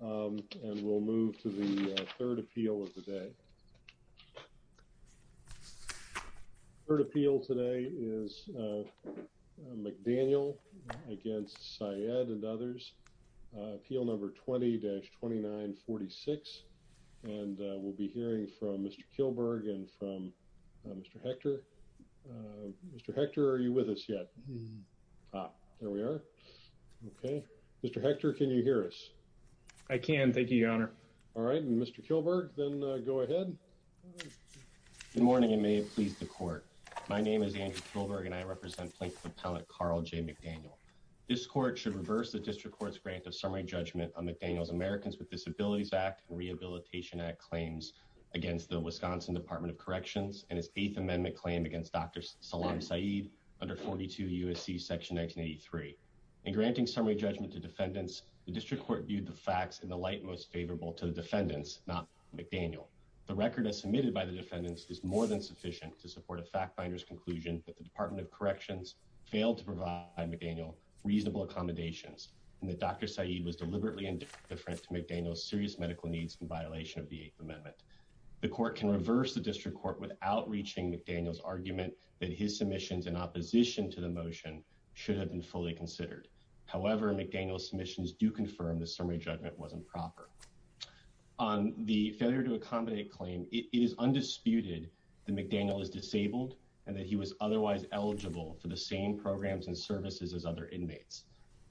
and we'll move to the third appeal of the day. Third appeal today is McDaniel against Syed and others. Appeal number 20-2946 and we'll be hearing from Mr. Kilberg and from Mr. Hector. Mr. Hector are you with us yet? Ah there we are. Okay Mr. Hector can you hear us? I can thank you your honor. All right and Mr. Kilberg then go ahead. Good morning and may it please the court. My name is Andrew Kilberg and I represent Plaintiff Appellant Carl J. McDaniel. This court should reverse the District Court's grant of summary judgment on McDaniel's Americans with Disabilities Act and Rehabilitation Act claims against the Wisconsin Department of Corrections and its eighth amendment claim against Dr. Salam Syed under 42 USC section 1983. In granting summary judgment to defendants the District Court viewed the facts in the light most favorable to the defendants not McDaniel. The record as submitted by the defendants is more than sufficient to support a fact finder's conclusion that the Department of Corrections failed to provide McDaniel reasonable accommodations and that Dr. Syed was deliberately indifferent to McDaniel's serious medical needs in violation of the eighth amendment. The court can reverse the District Court without reaching McDaniel's argument that his submissions in opposition to the motion should have been fully considered. However McDaniel's submissions do confirm the summary judgment wasn't proper. On the failure to accommodate claim it is undisputed that McDaniel is disabled and that he was otherwise eligible for the same programs and services as other inmates.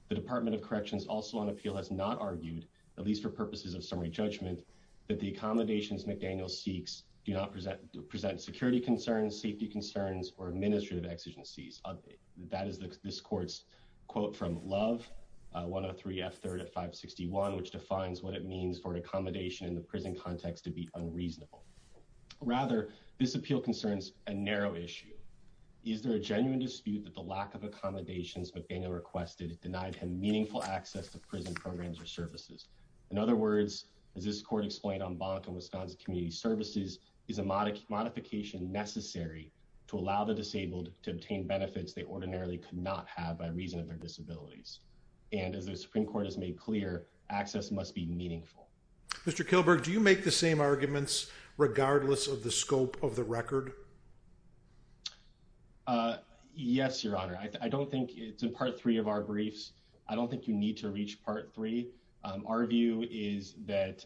The Department of Corrections also on appeal has not argued at least for purposes of summary judgment that the accommodations McDaniel seeks do not present present security concerns safety concerns or administrative exigencies. That is this court's quote from Love 103 F3 at 561 which defines what it means for an accommodation in the prison context to be unreasonable. Rather this appeal concerns a narrow issue. Is there a genuine dispute that the lack of accommodations McDaniel requested denied him meaningful access to prison programs or services? In other words as this court explained on Bonk and Wisconsin Community Services is a modification necessary to allow the disabled to obtain benefits they ordinarily could not have by reason of their disabilities. And as the Supreme Court has made clear access must be meaningful. Mr. Kilberg do you make the same arguments regardless of the scope of the record? Yes your honor I don't think it's in part three of our briefs. I don't think you need to reach part three our view is that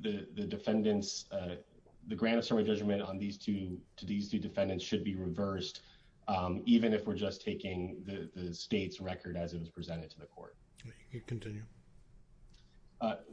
the defendants the grant of summary judgment on these two to these two defendants should be reversed even if we're just taking the state's record as it was presented to the court.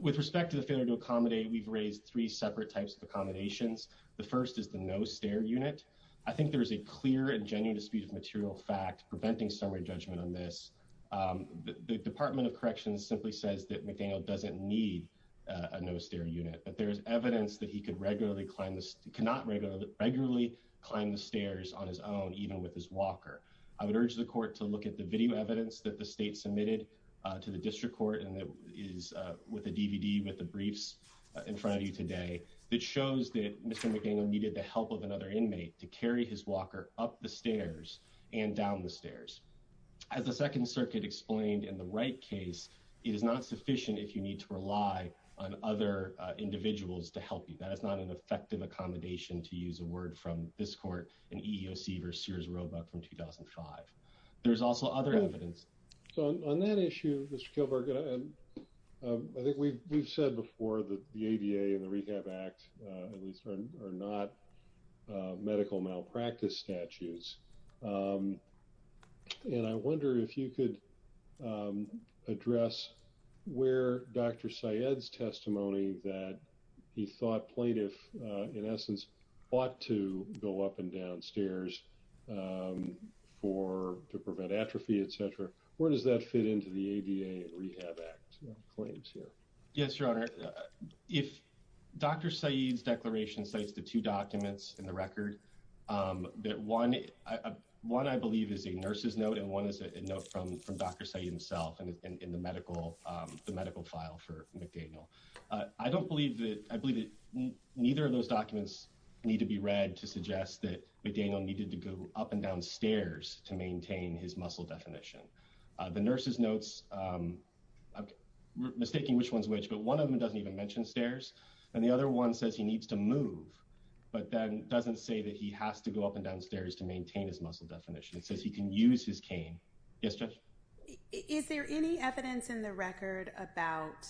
With respect to the failure to accommodate we've raised three separate types of accommodations. The first is the no stair unit. I think there is a clear and genuine dispute of material fact preventing summary judgment on this. The Department of Corrections simply says that McDaniel doesn't need a no stair unit but there's evidence that he could regularly climb this cannot regularly climb the stairs on his own even with his walker. I would urge the court to look at the video evidence that the state submitted to the district court and that is with a DVD with the briefs in front of you today that shows that Mr. McDaniel needed the help of another inmate to carry his walker up the stairs and down the stairs. As the Second Circuit explained in the Wright case it is not sufficient if you need to rely on other individuals to help you. That is not an effective accommodation to use a word from this court and EEOC versus Sears Roebuck from 2005. There's also other evidence. So on that issue Mr. Kilburg I think we've said before that the ADA and the Rehab Act are not medical malpractice statutes. And I wonder if you could address where Dr. Syed's testimony that he thought plaintiff in essence ought to go up and down stairs for to prevent atrophy etc. Where does that fit into the ADA and Rehab Act claims here? Yes your honor. If Dr. Syed's declaration cites the two documents in the record that one I believe is a nurse's note and one is a note from from Dr. Syed himself and in the medical the medical file for McDaniel. I don't believe that I believe that neither of those documents need to be read to suggest that McDaniel needed to go up and down stairs to maintain his muscle definition. The nurse's notes I'm mistaking which one's which but one of them doesn't even mention stairs and the other one says he needs to move but then doesn't say that he has to go up and down stairs to maintain his muscle definition. It says he can use his cane. Yes judge. Is there any evidence in the record about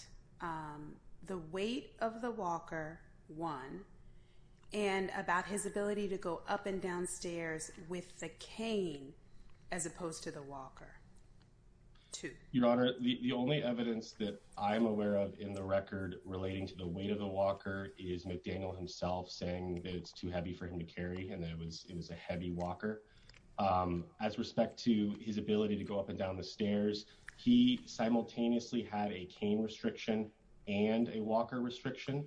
the weight of the walker one and about his ability to go up and down stairs with the cane as opposed to the walker two? Your honor the only evidence that I'm aware of in the record relating to the weight of the walker is McDaniel himself saying that it's too heavy for him to carry and that it was it was a heavy walker. As respect to his ability to go up and down the stairs he simultaneously had a cane restriction and a walker restriction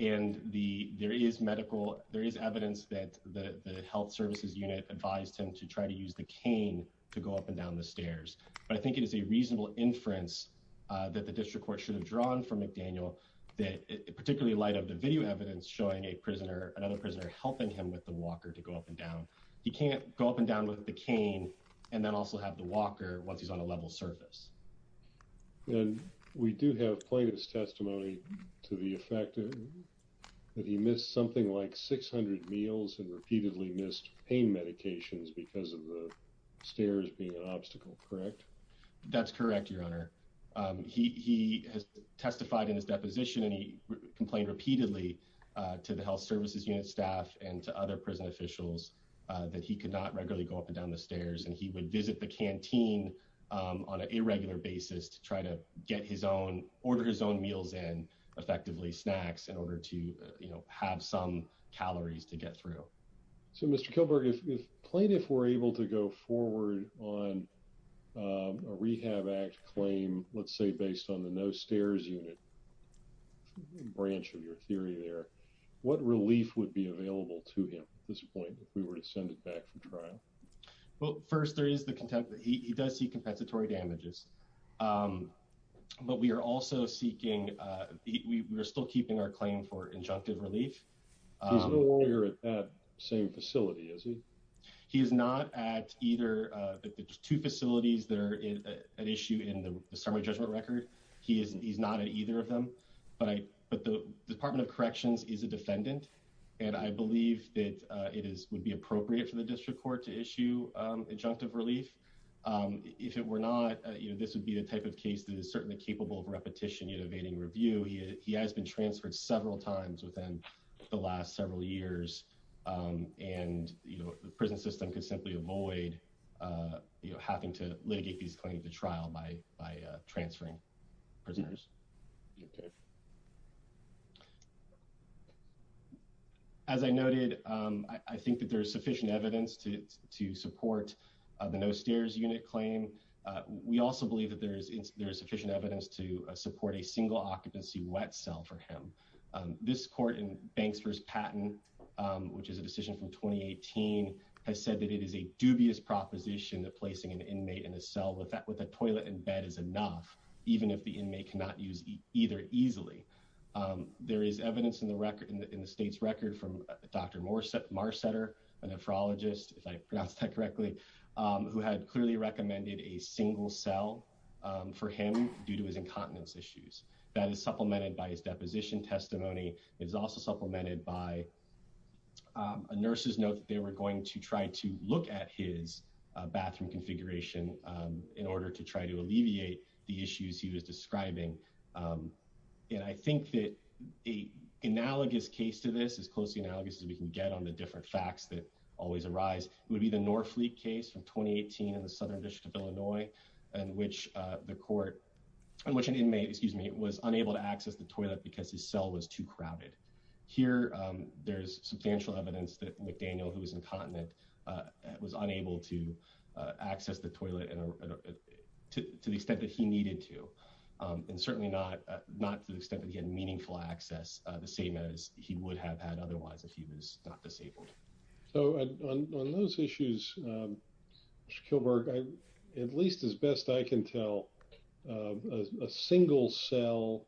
and the there is medical there is evidence that the health services unit advised him to try to use the cane to go up and down the stairs but I think it is a reasonable inference that the district court should have drawn from McDaniel that particularly light of the video evidence showing a prisoner another prisoner helping him with the walker to go up and down. He can't go up and down with the cane and then also have the walker once he's on a level surface. And we do have plaintiff's testimony to the effect that he missed something like 600 meals and repeatedly missed pain medications because of the stairs being an obstacle correct? That's correct your honor. He has testified in his deposition and he complained repeatedly to the health services unit staff and to other prison officials that he could not regularly go up and down the stairs and he would visit the canteen on an irregular basis to try to get his own order his own meals and effectively snacks in order to you know have some calories to get through. So Mr. Kilberg if plaintiff were able to go forward on a rehab act claim let's say based on the no stairs unit branch of your theory there what relief would be available to him at this point if we were to send it back for trial? Well first there is the contempt that he does see compensatory damages but we are also seeking we're still keeping our claim for injunctive relief. He's no longer at that same facility is he? He is not at either the two facilities that are in an issue in the summary judgment record he is he's not at either of them but I but the department of corrections is a defendant and I believe that it is would be appropriate for the district court to issue injunctive relief if it were not you know this would be the type of case that is certainly capable of repetition univading review he has been transferred several times within the last several years and you know the prison system could simply avoid you know having to litigate these claims to trial by transferring prisoners. As I noted I think that there is sufficient evidence to to support the no stairs unit claim we also believe that there is there is sufficient evidence to support a single occupancy wet cell for him. This court in Banks versus Patton which is a decision from 2018 has said that it is a dubious proposition that placing an inmate in a cell with that with a toilet and bed is enough even if the inmate cannot use either easily. There is evidence in the record in the state's record from Dr. Marsetter a nephrologist if I pronounced that correctly who had clearly recommended a single cell for him due to his incontinence issues that is supplemented by his deposition testimony is also supplemented by a nurse's note that they were going to try to look at his bathroom configuration in order to try to alleviate the issues he was describing and I think that a analogous case to this as closely analogous as we can get on the different facts that always arise would be the Norfleet case from 2018 in the southern district of Illinois in which the court in which an inmate excuse me was unable to access the toilet because his cell was too crowded. Here there's substantial evidence that McDaniel who was incontinent was unable to access the toilet and to the extent that he needed to and certainly not not to the extent that he had meaningful access the same as he would have had otherwise if he was not disabled. So on those issues Mr. Kilberg at least as best I can tell a single cell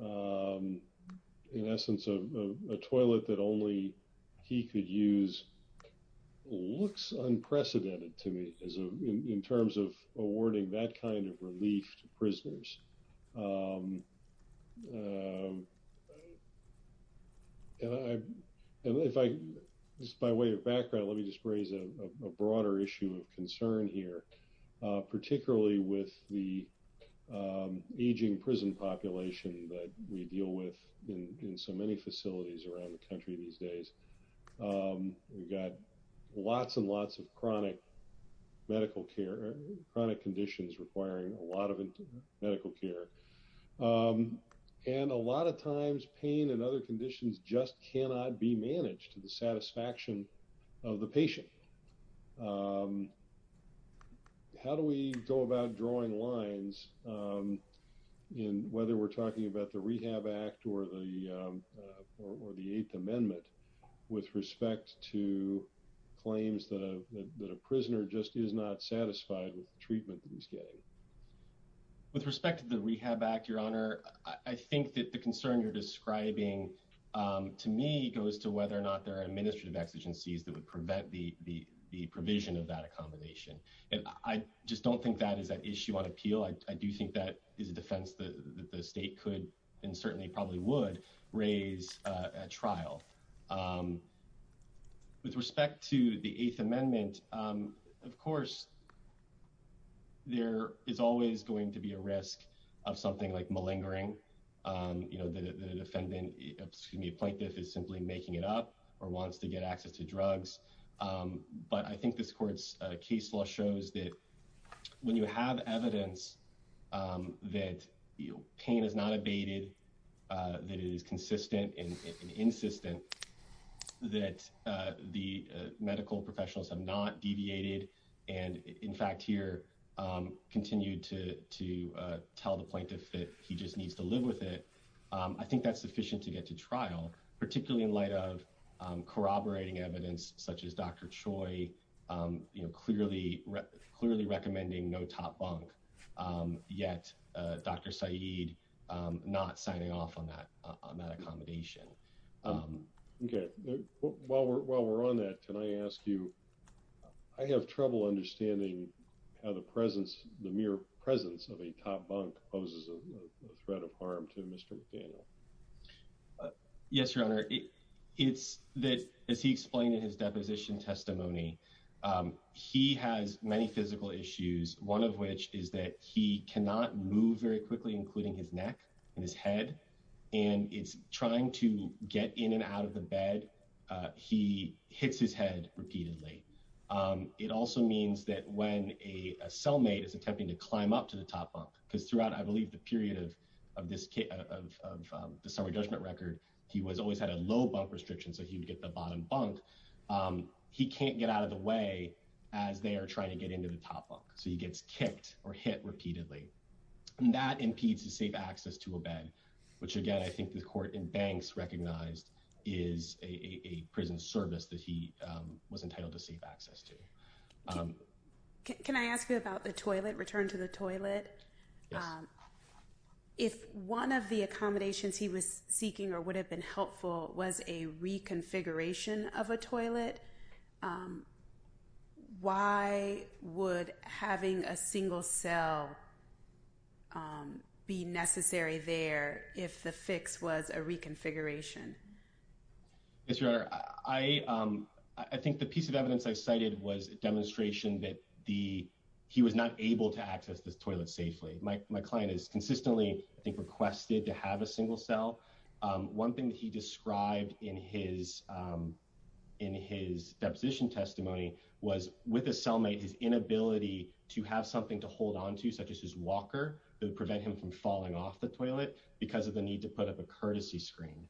in essence of a toilet that only he could use looks unprecedented to me as a in terms of awarding that kind of relief to prisoners and I and if I just by way of background let me just raise a broader issue of concern here particularly with the aging prison population that we deal with in so many facilities around the country these days. We've got lots and lots of chronic medical care chronic conditions requiring a lot of medical care and a lot of times pain and other conditions just cannot be managed to the satisfaction of the patient. How do we go about drawing lines in whether we're talking about the Rehab Act or the or the Eighth Amendment with respect to getting with respect to the Rehab Act your honor I think that the concern you're describing to me goes to whether or not there are administrative exigencies that would prevent the provision of that accommodation and I just don't think that is an issue on appeal. I do think that is a defense that the state could and certainly probably would raise at trial. With respect to the Eighth Amendment of course there is always going to be a risk of something like malingering you know the defendant excuse me plaintiff is simply making it up or wants to get access to drugs but I think this court's case law shows that when you have evidence that pain is not abated that it is consistent and insistent that the medical professionals have not deviated and in fact here continued to tell the plaintiff that he just needs to live with it. I think that's sufficient to get to trial particularly in light of corroborating evidence such as Dr. Choi clearly recommending no top bunk yet Dr. Saeed not signing off on that on that accommodation. Okay while we're on that can I ask you I have trouble understanding how the mere presence of a top bunk poses a threat of harm to Mr. McDaniel. Yes your honor it's that as he explained in his deposition testimony he has many physical issues one of which is that he cannot move very quickly including his neck and his head and it's trying to get in and out of the bed he hits his head repeatedly. It also means that when a cellmate is attempting to climb up to the top bunk because throughout I believe the period of the summary judgment record he was always had a low bump restriction so he would get the bottom bunk he can't get out of the way as they are trying to get into the top bunk so he gets kicked or hit repeatedly and that impedes his safe access to a bed which again I think the court in banks recognized is a prison service that he was entitled to safe access to. Can I ask you about the toilet return to the toilet? If one of the accommodations he was seeking or would have been helpful was a reconfiguration of a toilet why would having a single cell be necessary there if the fix was a reconfiguration? Yes your honor I think the piece of evidence I cited was a demonstration that the he was not able to access this toilet safely. My client is consistently I think requested to have a single cell. One thing that he described in his in his deposition testimony was with a cellmate his inability to have something to hold on to such as his walker that would prevent him from falling off the toilet because of the need to put up a courtesy screen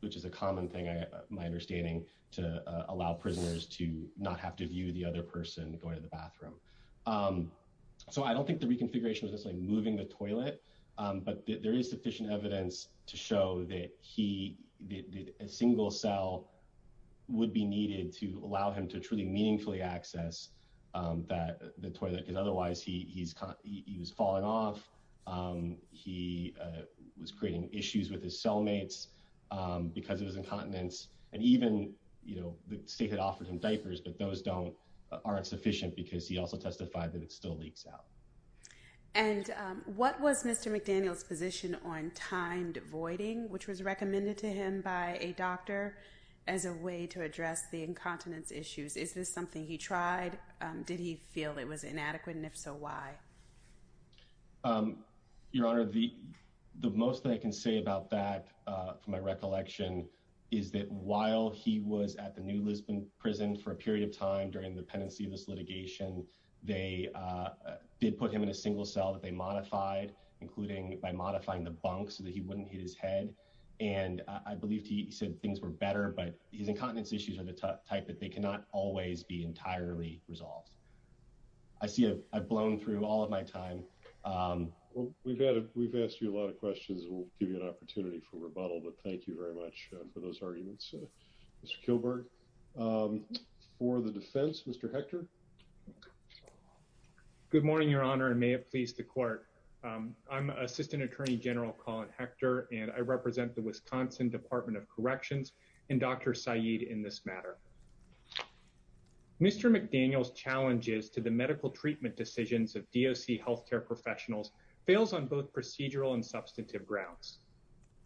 which is a common thing my understanding to allow prisoners to not have to view the other person going to the bathroom. So I don't think the reconfiguration was just like moving the toilet but there is sufficient evidence to show that a single cell would be needed to allow him to truly meaningfully access that the toilet because otherwise he he's he was falling off he was creating issues with his cellmates because of his incontinence and even you know the state had offered him diapers but those don't aren't sufficient because he also testified that it still leaks out. And what was Mr. McDaniel's position on timed voiding which was recommended to him by a doctor as a way to address the incontinence issues? Is this something he tried? Did he feel it was inadequate and if so why? Your honor the the most that I can say about that from my recollection is that while he was at the New Lisbon prison for a period of time during the pendency of this litigation they did put him in a single cell that they modified including by modifying the bunk so that he wouldn't hit his head and I believe he said things were better but his incontinence issues are the type that they cannot always be entirely resolved. I see I've blown through all of my time. Well we've had we've asked you a lot of questions we'll give you an opportunity for rebuttal but thank you very much for those arguments Mr. Kilberg. For the defense Mr. Hector. Good morning your honor and may it please the court. I'm assistant attorney general Colin Hector and I represent the Wisconsin Department of Corrections and Dr. Syed in this matter. Mr. McDaniel's challenges to the medical treatment decisions of DOC healthcare professionals fails on both procedural and substantive grounds.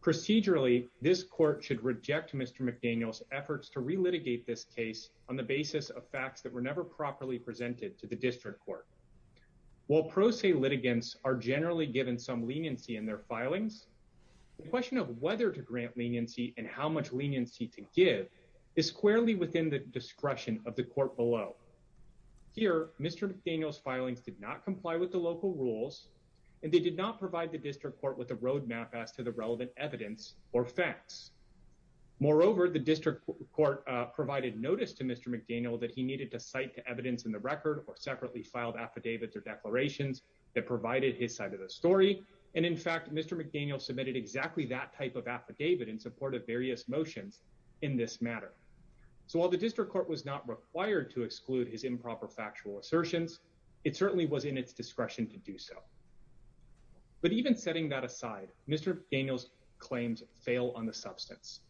Procedurally this court should reject Mr. McDaniel's efforts to re-litigate this case on the basis of facts that were never properly presented to the district court. While pro se litigants are generally given some leniency in their filings the question of whether to grant leniency and how much leniency to give is squarely within the discretion of the court below. Here Mr. McDaniel's filings did not comply with the local rules and they did not provide the district court with a roadmap as to the relevant evidence or facts. Moreover the district court provided notice to Mr. McDaniel that he needed to cite to evidence in the record or separately filed affidavits or declarations that provided his side of the story and in fact Mr. McDaniel submitted exactly that type of affidavit in support of various motions in this matter. So while the district court was not required to exclude his improper factual assertions it certainly was in its discretion to do so. But even setting that aside Mr. McDaniel's claims fail on the substance.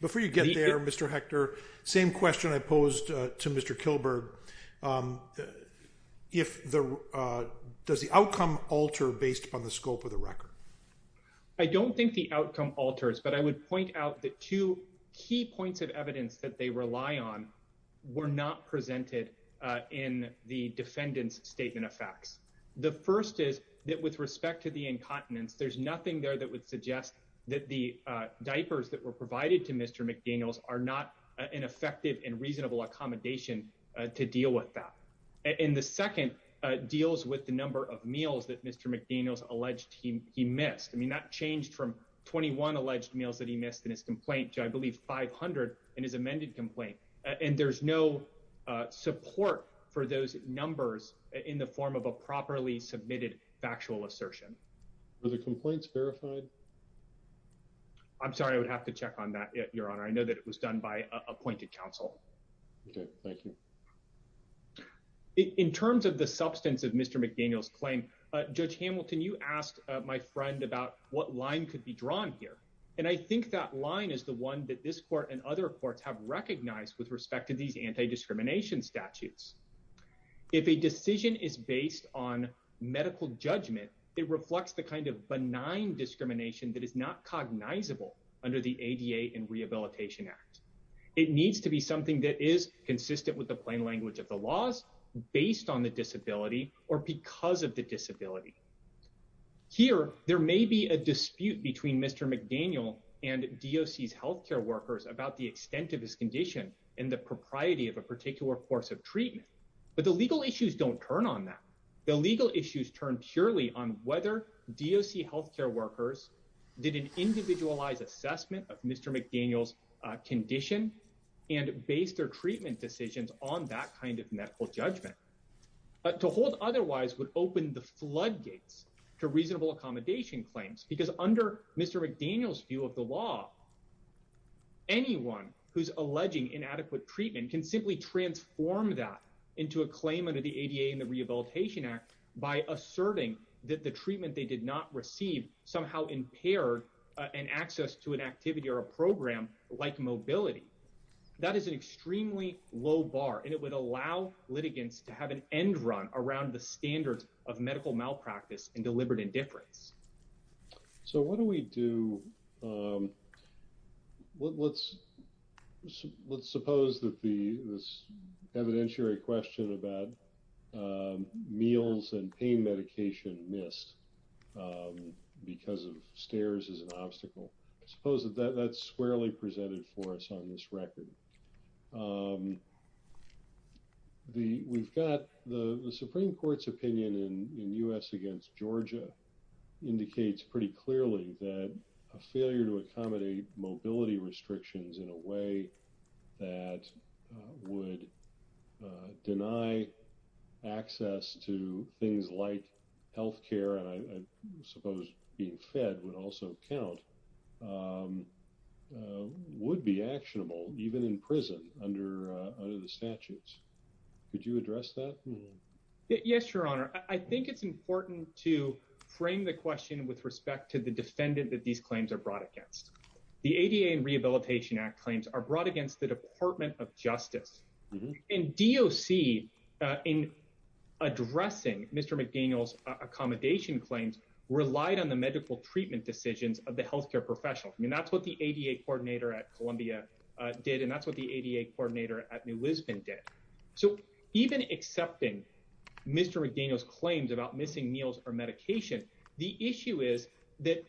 Before you get there Mr. Hector same question I posed to Mr. Kilberg. Does the outcome alter based upon the scope of the record? I don't think the outcome alters but I would point out that two key points of evidence that they rely on were not presented in the defendant's statement of facts. The first is that with respect to the incontinence there's nothing there that would suggest that the diapers that were provided to Mr. McDaniels are not an effective and reasonable accommodation to deal with that. And the second deals with the number of meals that Mr. McDaniels alleged he missed. I mean that changed from 21 alleged meals that he missed in his complaint to I believe 500 in his amended complaint. And there's no support for those numbers in the form of a properly submitted factual assertion. Were the I know that it was done by appointed counsel. Okay thank you. In terms of the substance of Mr. McDaniels claim Judge Hamilton you asked my friend about what line could be drawn here. And I think that line is the one that this court and other courts have recognized with respect to these anti-discrimination statutes. If a decision is based on medical judgment it reflects the kind of benign discrimination that is not cognizable under the ADA and Rehabilitation Act. It needs to be something that is consistent with the plain language of the laws based on the disability or because of the disability. Here there may be a dispute between Mr. McDaniel and DOC's healthcare workers about the extent of his condition and the propriety of a particular course of treatment. But the legal issues don't turn on that. The legal issues turn purely on whether DOC healthcare workers did an individualized assessment of Mr. McDaniel's condition and based their treatment decisions on that kind of medical judgment. But to hold otherwise would open the floodgates to reasonable accommodation claims because under Mr. McDaniel's view of the law anyone who's alleging inadequate treatment can simply transform that into a claim under the they did not receive somehow impaired and access to an activity or a program like mobility. That is an extremely low bar and it would allow litigants to have an end run around the standards of medical malpractice and deliberate indifference. So what do we do? Let's suppose that this evidentiary question about meals and pain medication missed because of stairs is an obstacle. I suppose that that's squarely presented for us on this record. We've got the Supreme Court's opinion in U.S. against Georgia indicates pretty clearly that a failure to accommodate mobility restrictions in a would deny access to things like health care and I suppose being fed would also count would be actionable even in prison under the statutes. Could you address that? Yes your honor. I think it's important to frame the question with respect to the defendant that these claims are brought against. The ADA and Rehabilitation Act claims are brought against the Department of Justice and DOC in addressing Mr. McDaniel's accommodation claims relied on the medical treatment decisions of the health care professionals. I mean that's what the ADA coordinator at Columbia did and that's what the ADA coordinator at New Lisbon did. So even accepting Mr. McDaniel's claims about missing meals or medication the issue is that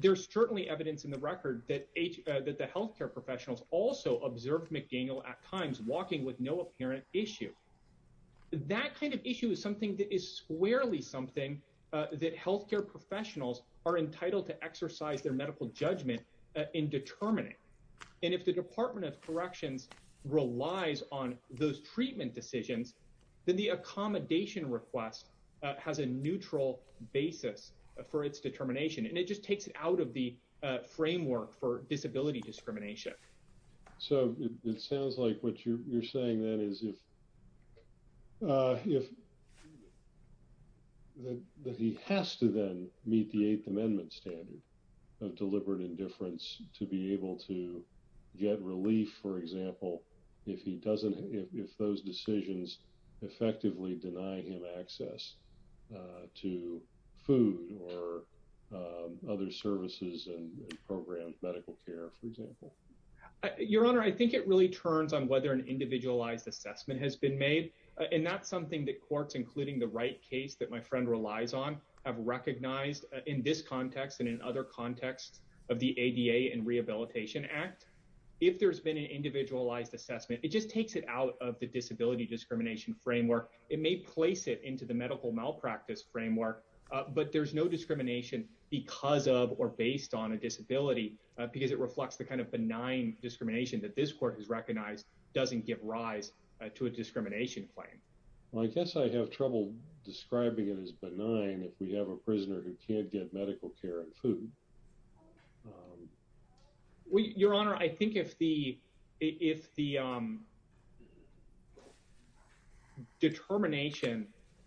there's certainly evidence in the record that the health care professionals also observed McDaniel at times walking with no apparent issue. That kind of issue is something that is squarely something that health care professionals are entitled to exercise their medical judgment in determining and if the Department of Corrections relies on those treatment decisions then the accommodation request has a neutral basis for its determination and it just takes it out of the framework for disability discrimination. So it sounds like what you're saying then is if if that he has to then meet the eighth amendment standard of deliberate indifference to be able to have access to food or other services and programs medical care for example. Your honor I think it really turns on whether an individualized assessment has been made and that's something that courts including the right case that my friend relies on have recognized in this context and in other contexts of the ADA and Rehabilitation Act. If there's been an individualized assessment it just takes it out of the disability discrimination framework. It may place it into the medical malpractice framework but there's no discrimination because of or based on a disability because it reflects the kind of benign discrimination that this court has recognized doesn't give rise to a discrimination claim. Well I guess I have trouble describing it as benign if we have a prisoner who can't get medical care and food. Well your honor I think if the if the determination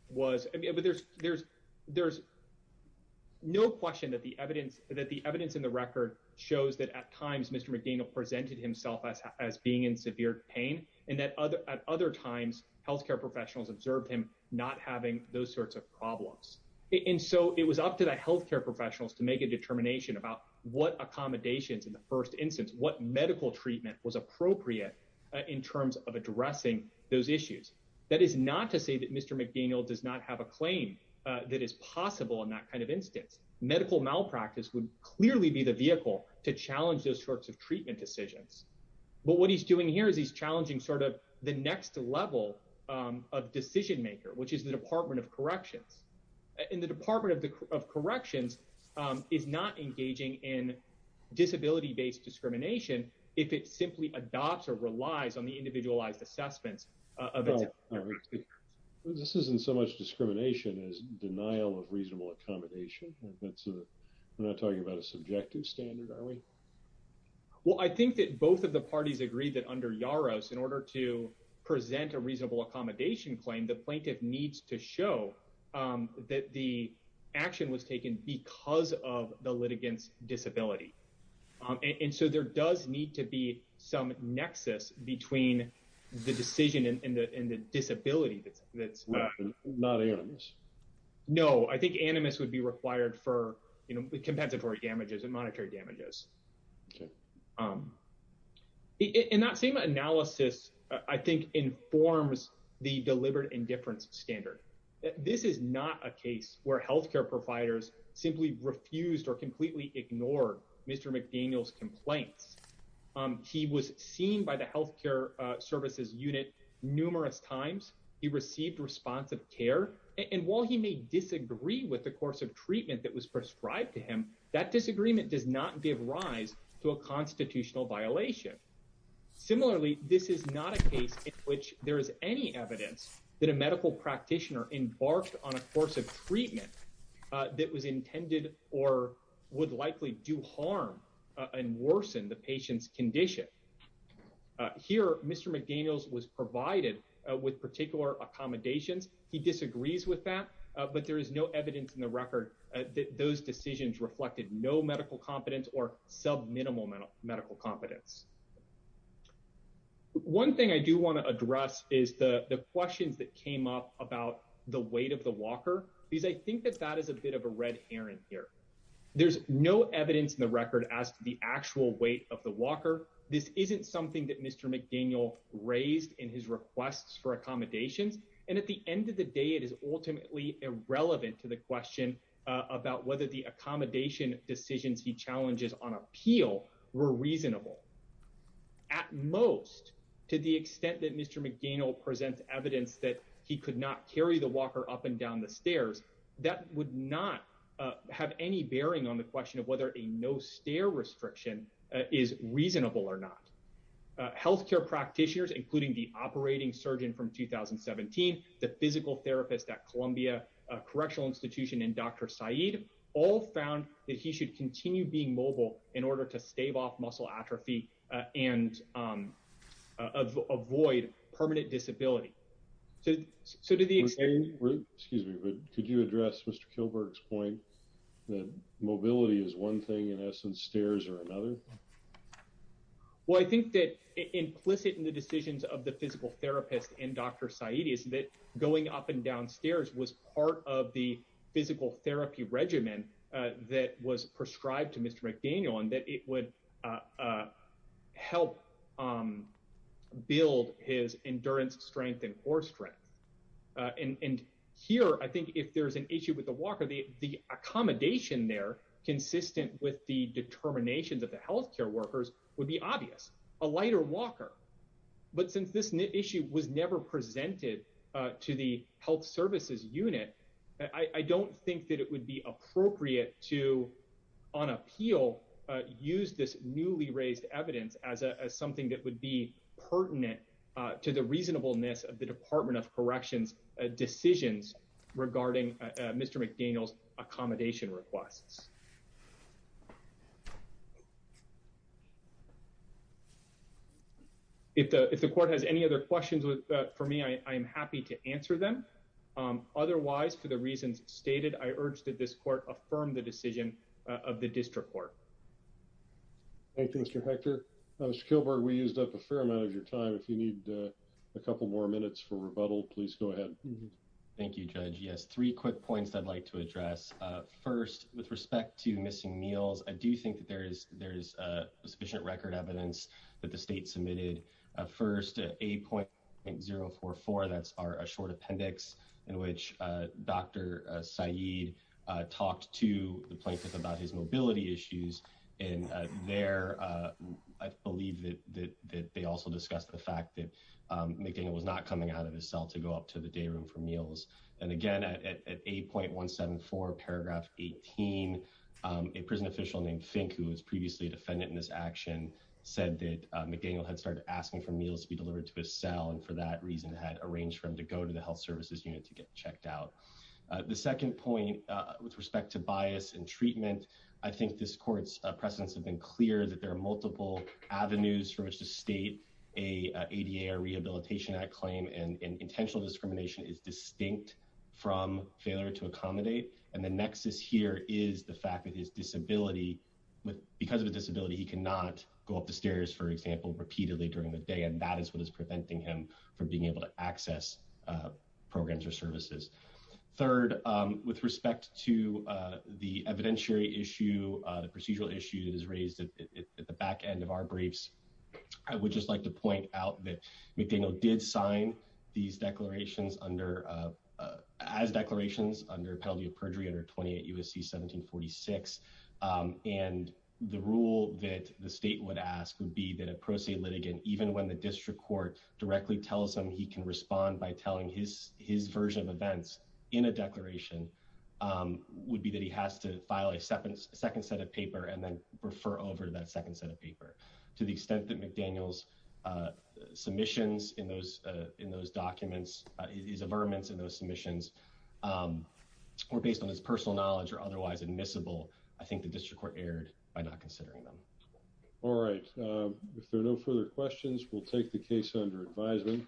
was but there's there's there's no question that the evidence that the evidence in the record shows that at times Mr. McDaniel presented himself as as being in severe pain and that other at other times health care professionals observed him not having those about what accommodations in the first instance what medical treatment was appropriate in terms of addressing those issues. That is not to say that Mr. McDaniel does not have a claim that is possible in that kind of instance. Medical malpractice would clearly be the vehicle to challenge those sorts of treatment decisions but what he's doing here is he's challenging sort of the next level of decision maker which is the Department of Corrections. And the Department of Corrections is not engaging in disability-based discrimination if it simply adopts or relies on the individualized assessments. This isn't so much discrimination as denial of reasonable accommodation. We're not talking about a subjective standard are we? Well I think that both of the parties agree that under Yaros in order to that the action was taken because of the litigant's disability. And so there does need to be some nexus between the decision and the and the disability that's that's. Not animus? No I think animus would be required for you know the compensatory damages and monetary damages. In that same analysis I think informs the deliberate indifference standard. This is not a case where health care providers simply refused or completely ignored Mr. McDaniel's complaints. He was seen by the health care services unit numerous times. He received responsive care and while he may disagree with the course of treatment that was prescribed to him that disagreement does not give rise to a constitutional violation. Similarly this is not a case in which there is any evidence that a medical practitioner embarked on a course of treatment that was intended or would likely do harm and worsen the patient's condition. Here Mr. McDaniel's was provided with particular accommodations. He disagrees with that but there is no evidence in the record that those decisions reflected no medical competence or sub-minimal medical competence. One thing I do want to address is the questions that came up about the weight of the walker because I think that that is a bit of a red herring here. There's no evidence in the record as to the actual weight of the walker. This isn't something that Mr. McDaniel raised in his requests for accommodations and at the end of the day it is ultimately irrelevant to the question about whether the accommodation decisions he challenges on appeal were reasonable. At most to the extent that Mr. McDaniel presents evidence that he could not carry the walker up and down the stairs that would not have any bearing on the question of whether a no-stair restriction is reasonable or not. Healthcare practitioners including the operating surgeon from 2017, the physical therapist at Columbia Correctional Institution and Dr. Saeed all found that he should continue being mobile in order to stave off muscle atrophy and avoid permanent disability. Could you address Mr. Kilberg's point that mobility is one thing in essence stairs are another? Well I think that implicit in the decisions of the physical therapist and Dr. Saeed is that going up and down stairs was part of the physical therapy regimen that was prescribed to Mr. McDaniel and that it would help build his endurance strength and core strength. And here I think if there's an issue with the walker the accommodation there consistent with the determinations of the healthcare workers would be obvious. A lighter walker but since issue was never presented to the health services unit I don't think that it would be appropriate to on appeal use this newly raised evidence as something that would be pertinent to the reasonableness of the Department of Corrections decisions regarding Mr. McDaniel's accommodation requests. If the court has any other questions for me I am happy to answer them. Otherwise for the reasons stated I urge that this court affirm the decision of the district court. Thank you Mr. Hector. Mr. Kilberg we used up a fair amount of your time if you need a couple more minutes for rebuttal please go ahead. Thank you Judge. Yes three quick points I'd like to address. First with respect to missing meals I do think that there is there is a sufficient record evidence that the state submitted. First 8.044 that's our short appendix in which Dr. Saeed talked to the plaintiff about his mobility issues and there I believe that they also discussed the fact that McDaniel was not coming out of his cell to go up to the day room for meals and again at 8.174 paragraph 18 a prison official named Fink who was previously a defendant in this action said that McDaniel had started asking for meals to be delivered to his cell and for that reason had arranged for him to go to the health services unit to get checked out. The second point with respect to bias and treatment I think this court's precedents have been clear that there are multiple avenues from which to state a ADA or Rehabilitation Act claim and intentional discrimination is distinct from failure to accommodate and the nexus here is the fact that his disability with because of a disability he cannot go up the stairs for example repeatedly during the day and that is what is preventing him from being able to access programs or services. Third with respect to the evidentiary issue the procedural issue that is raised at the back end of our briefs I would just like to point out that McDaniel did sign these declarations under as declarations under penalty of perjury under 28 U.S.C. 1746 and the rule that the state would ask would be that a pro se litigant even when the district court directly tells him he can respond by telling his his version of events in a declaration would be that he has to file a second second set of paper and then refer over to that second set of paper to the extent that McDaniel's submissions in those in those documents his averments in those submissions were based on his personal knowledge or otherwise admissible I think the district court erred by not considering them. All right if there are no further questions we'll take the case under advisement.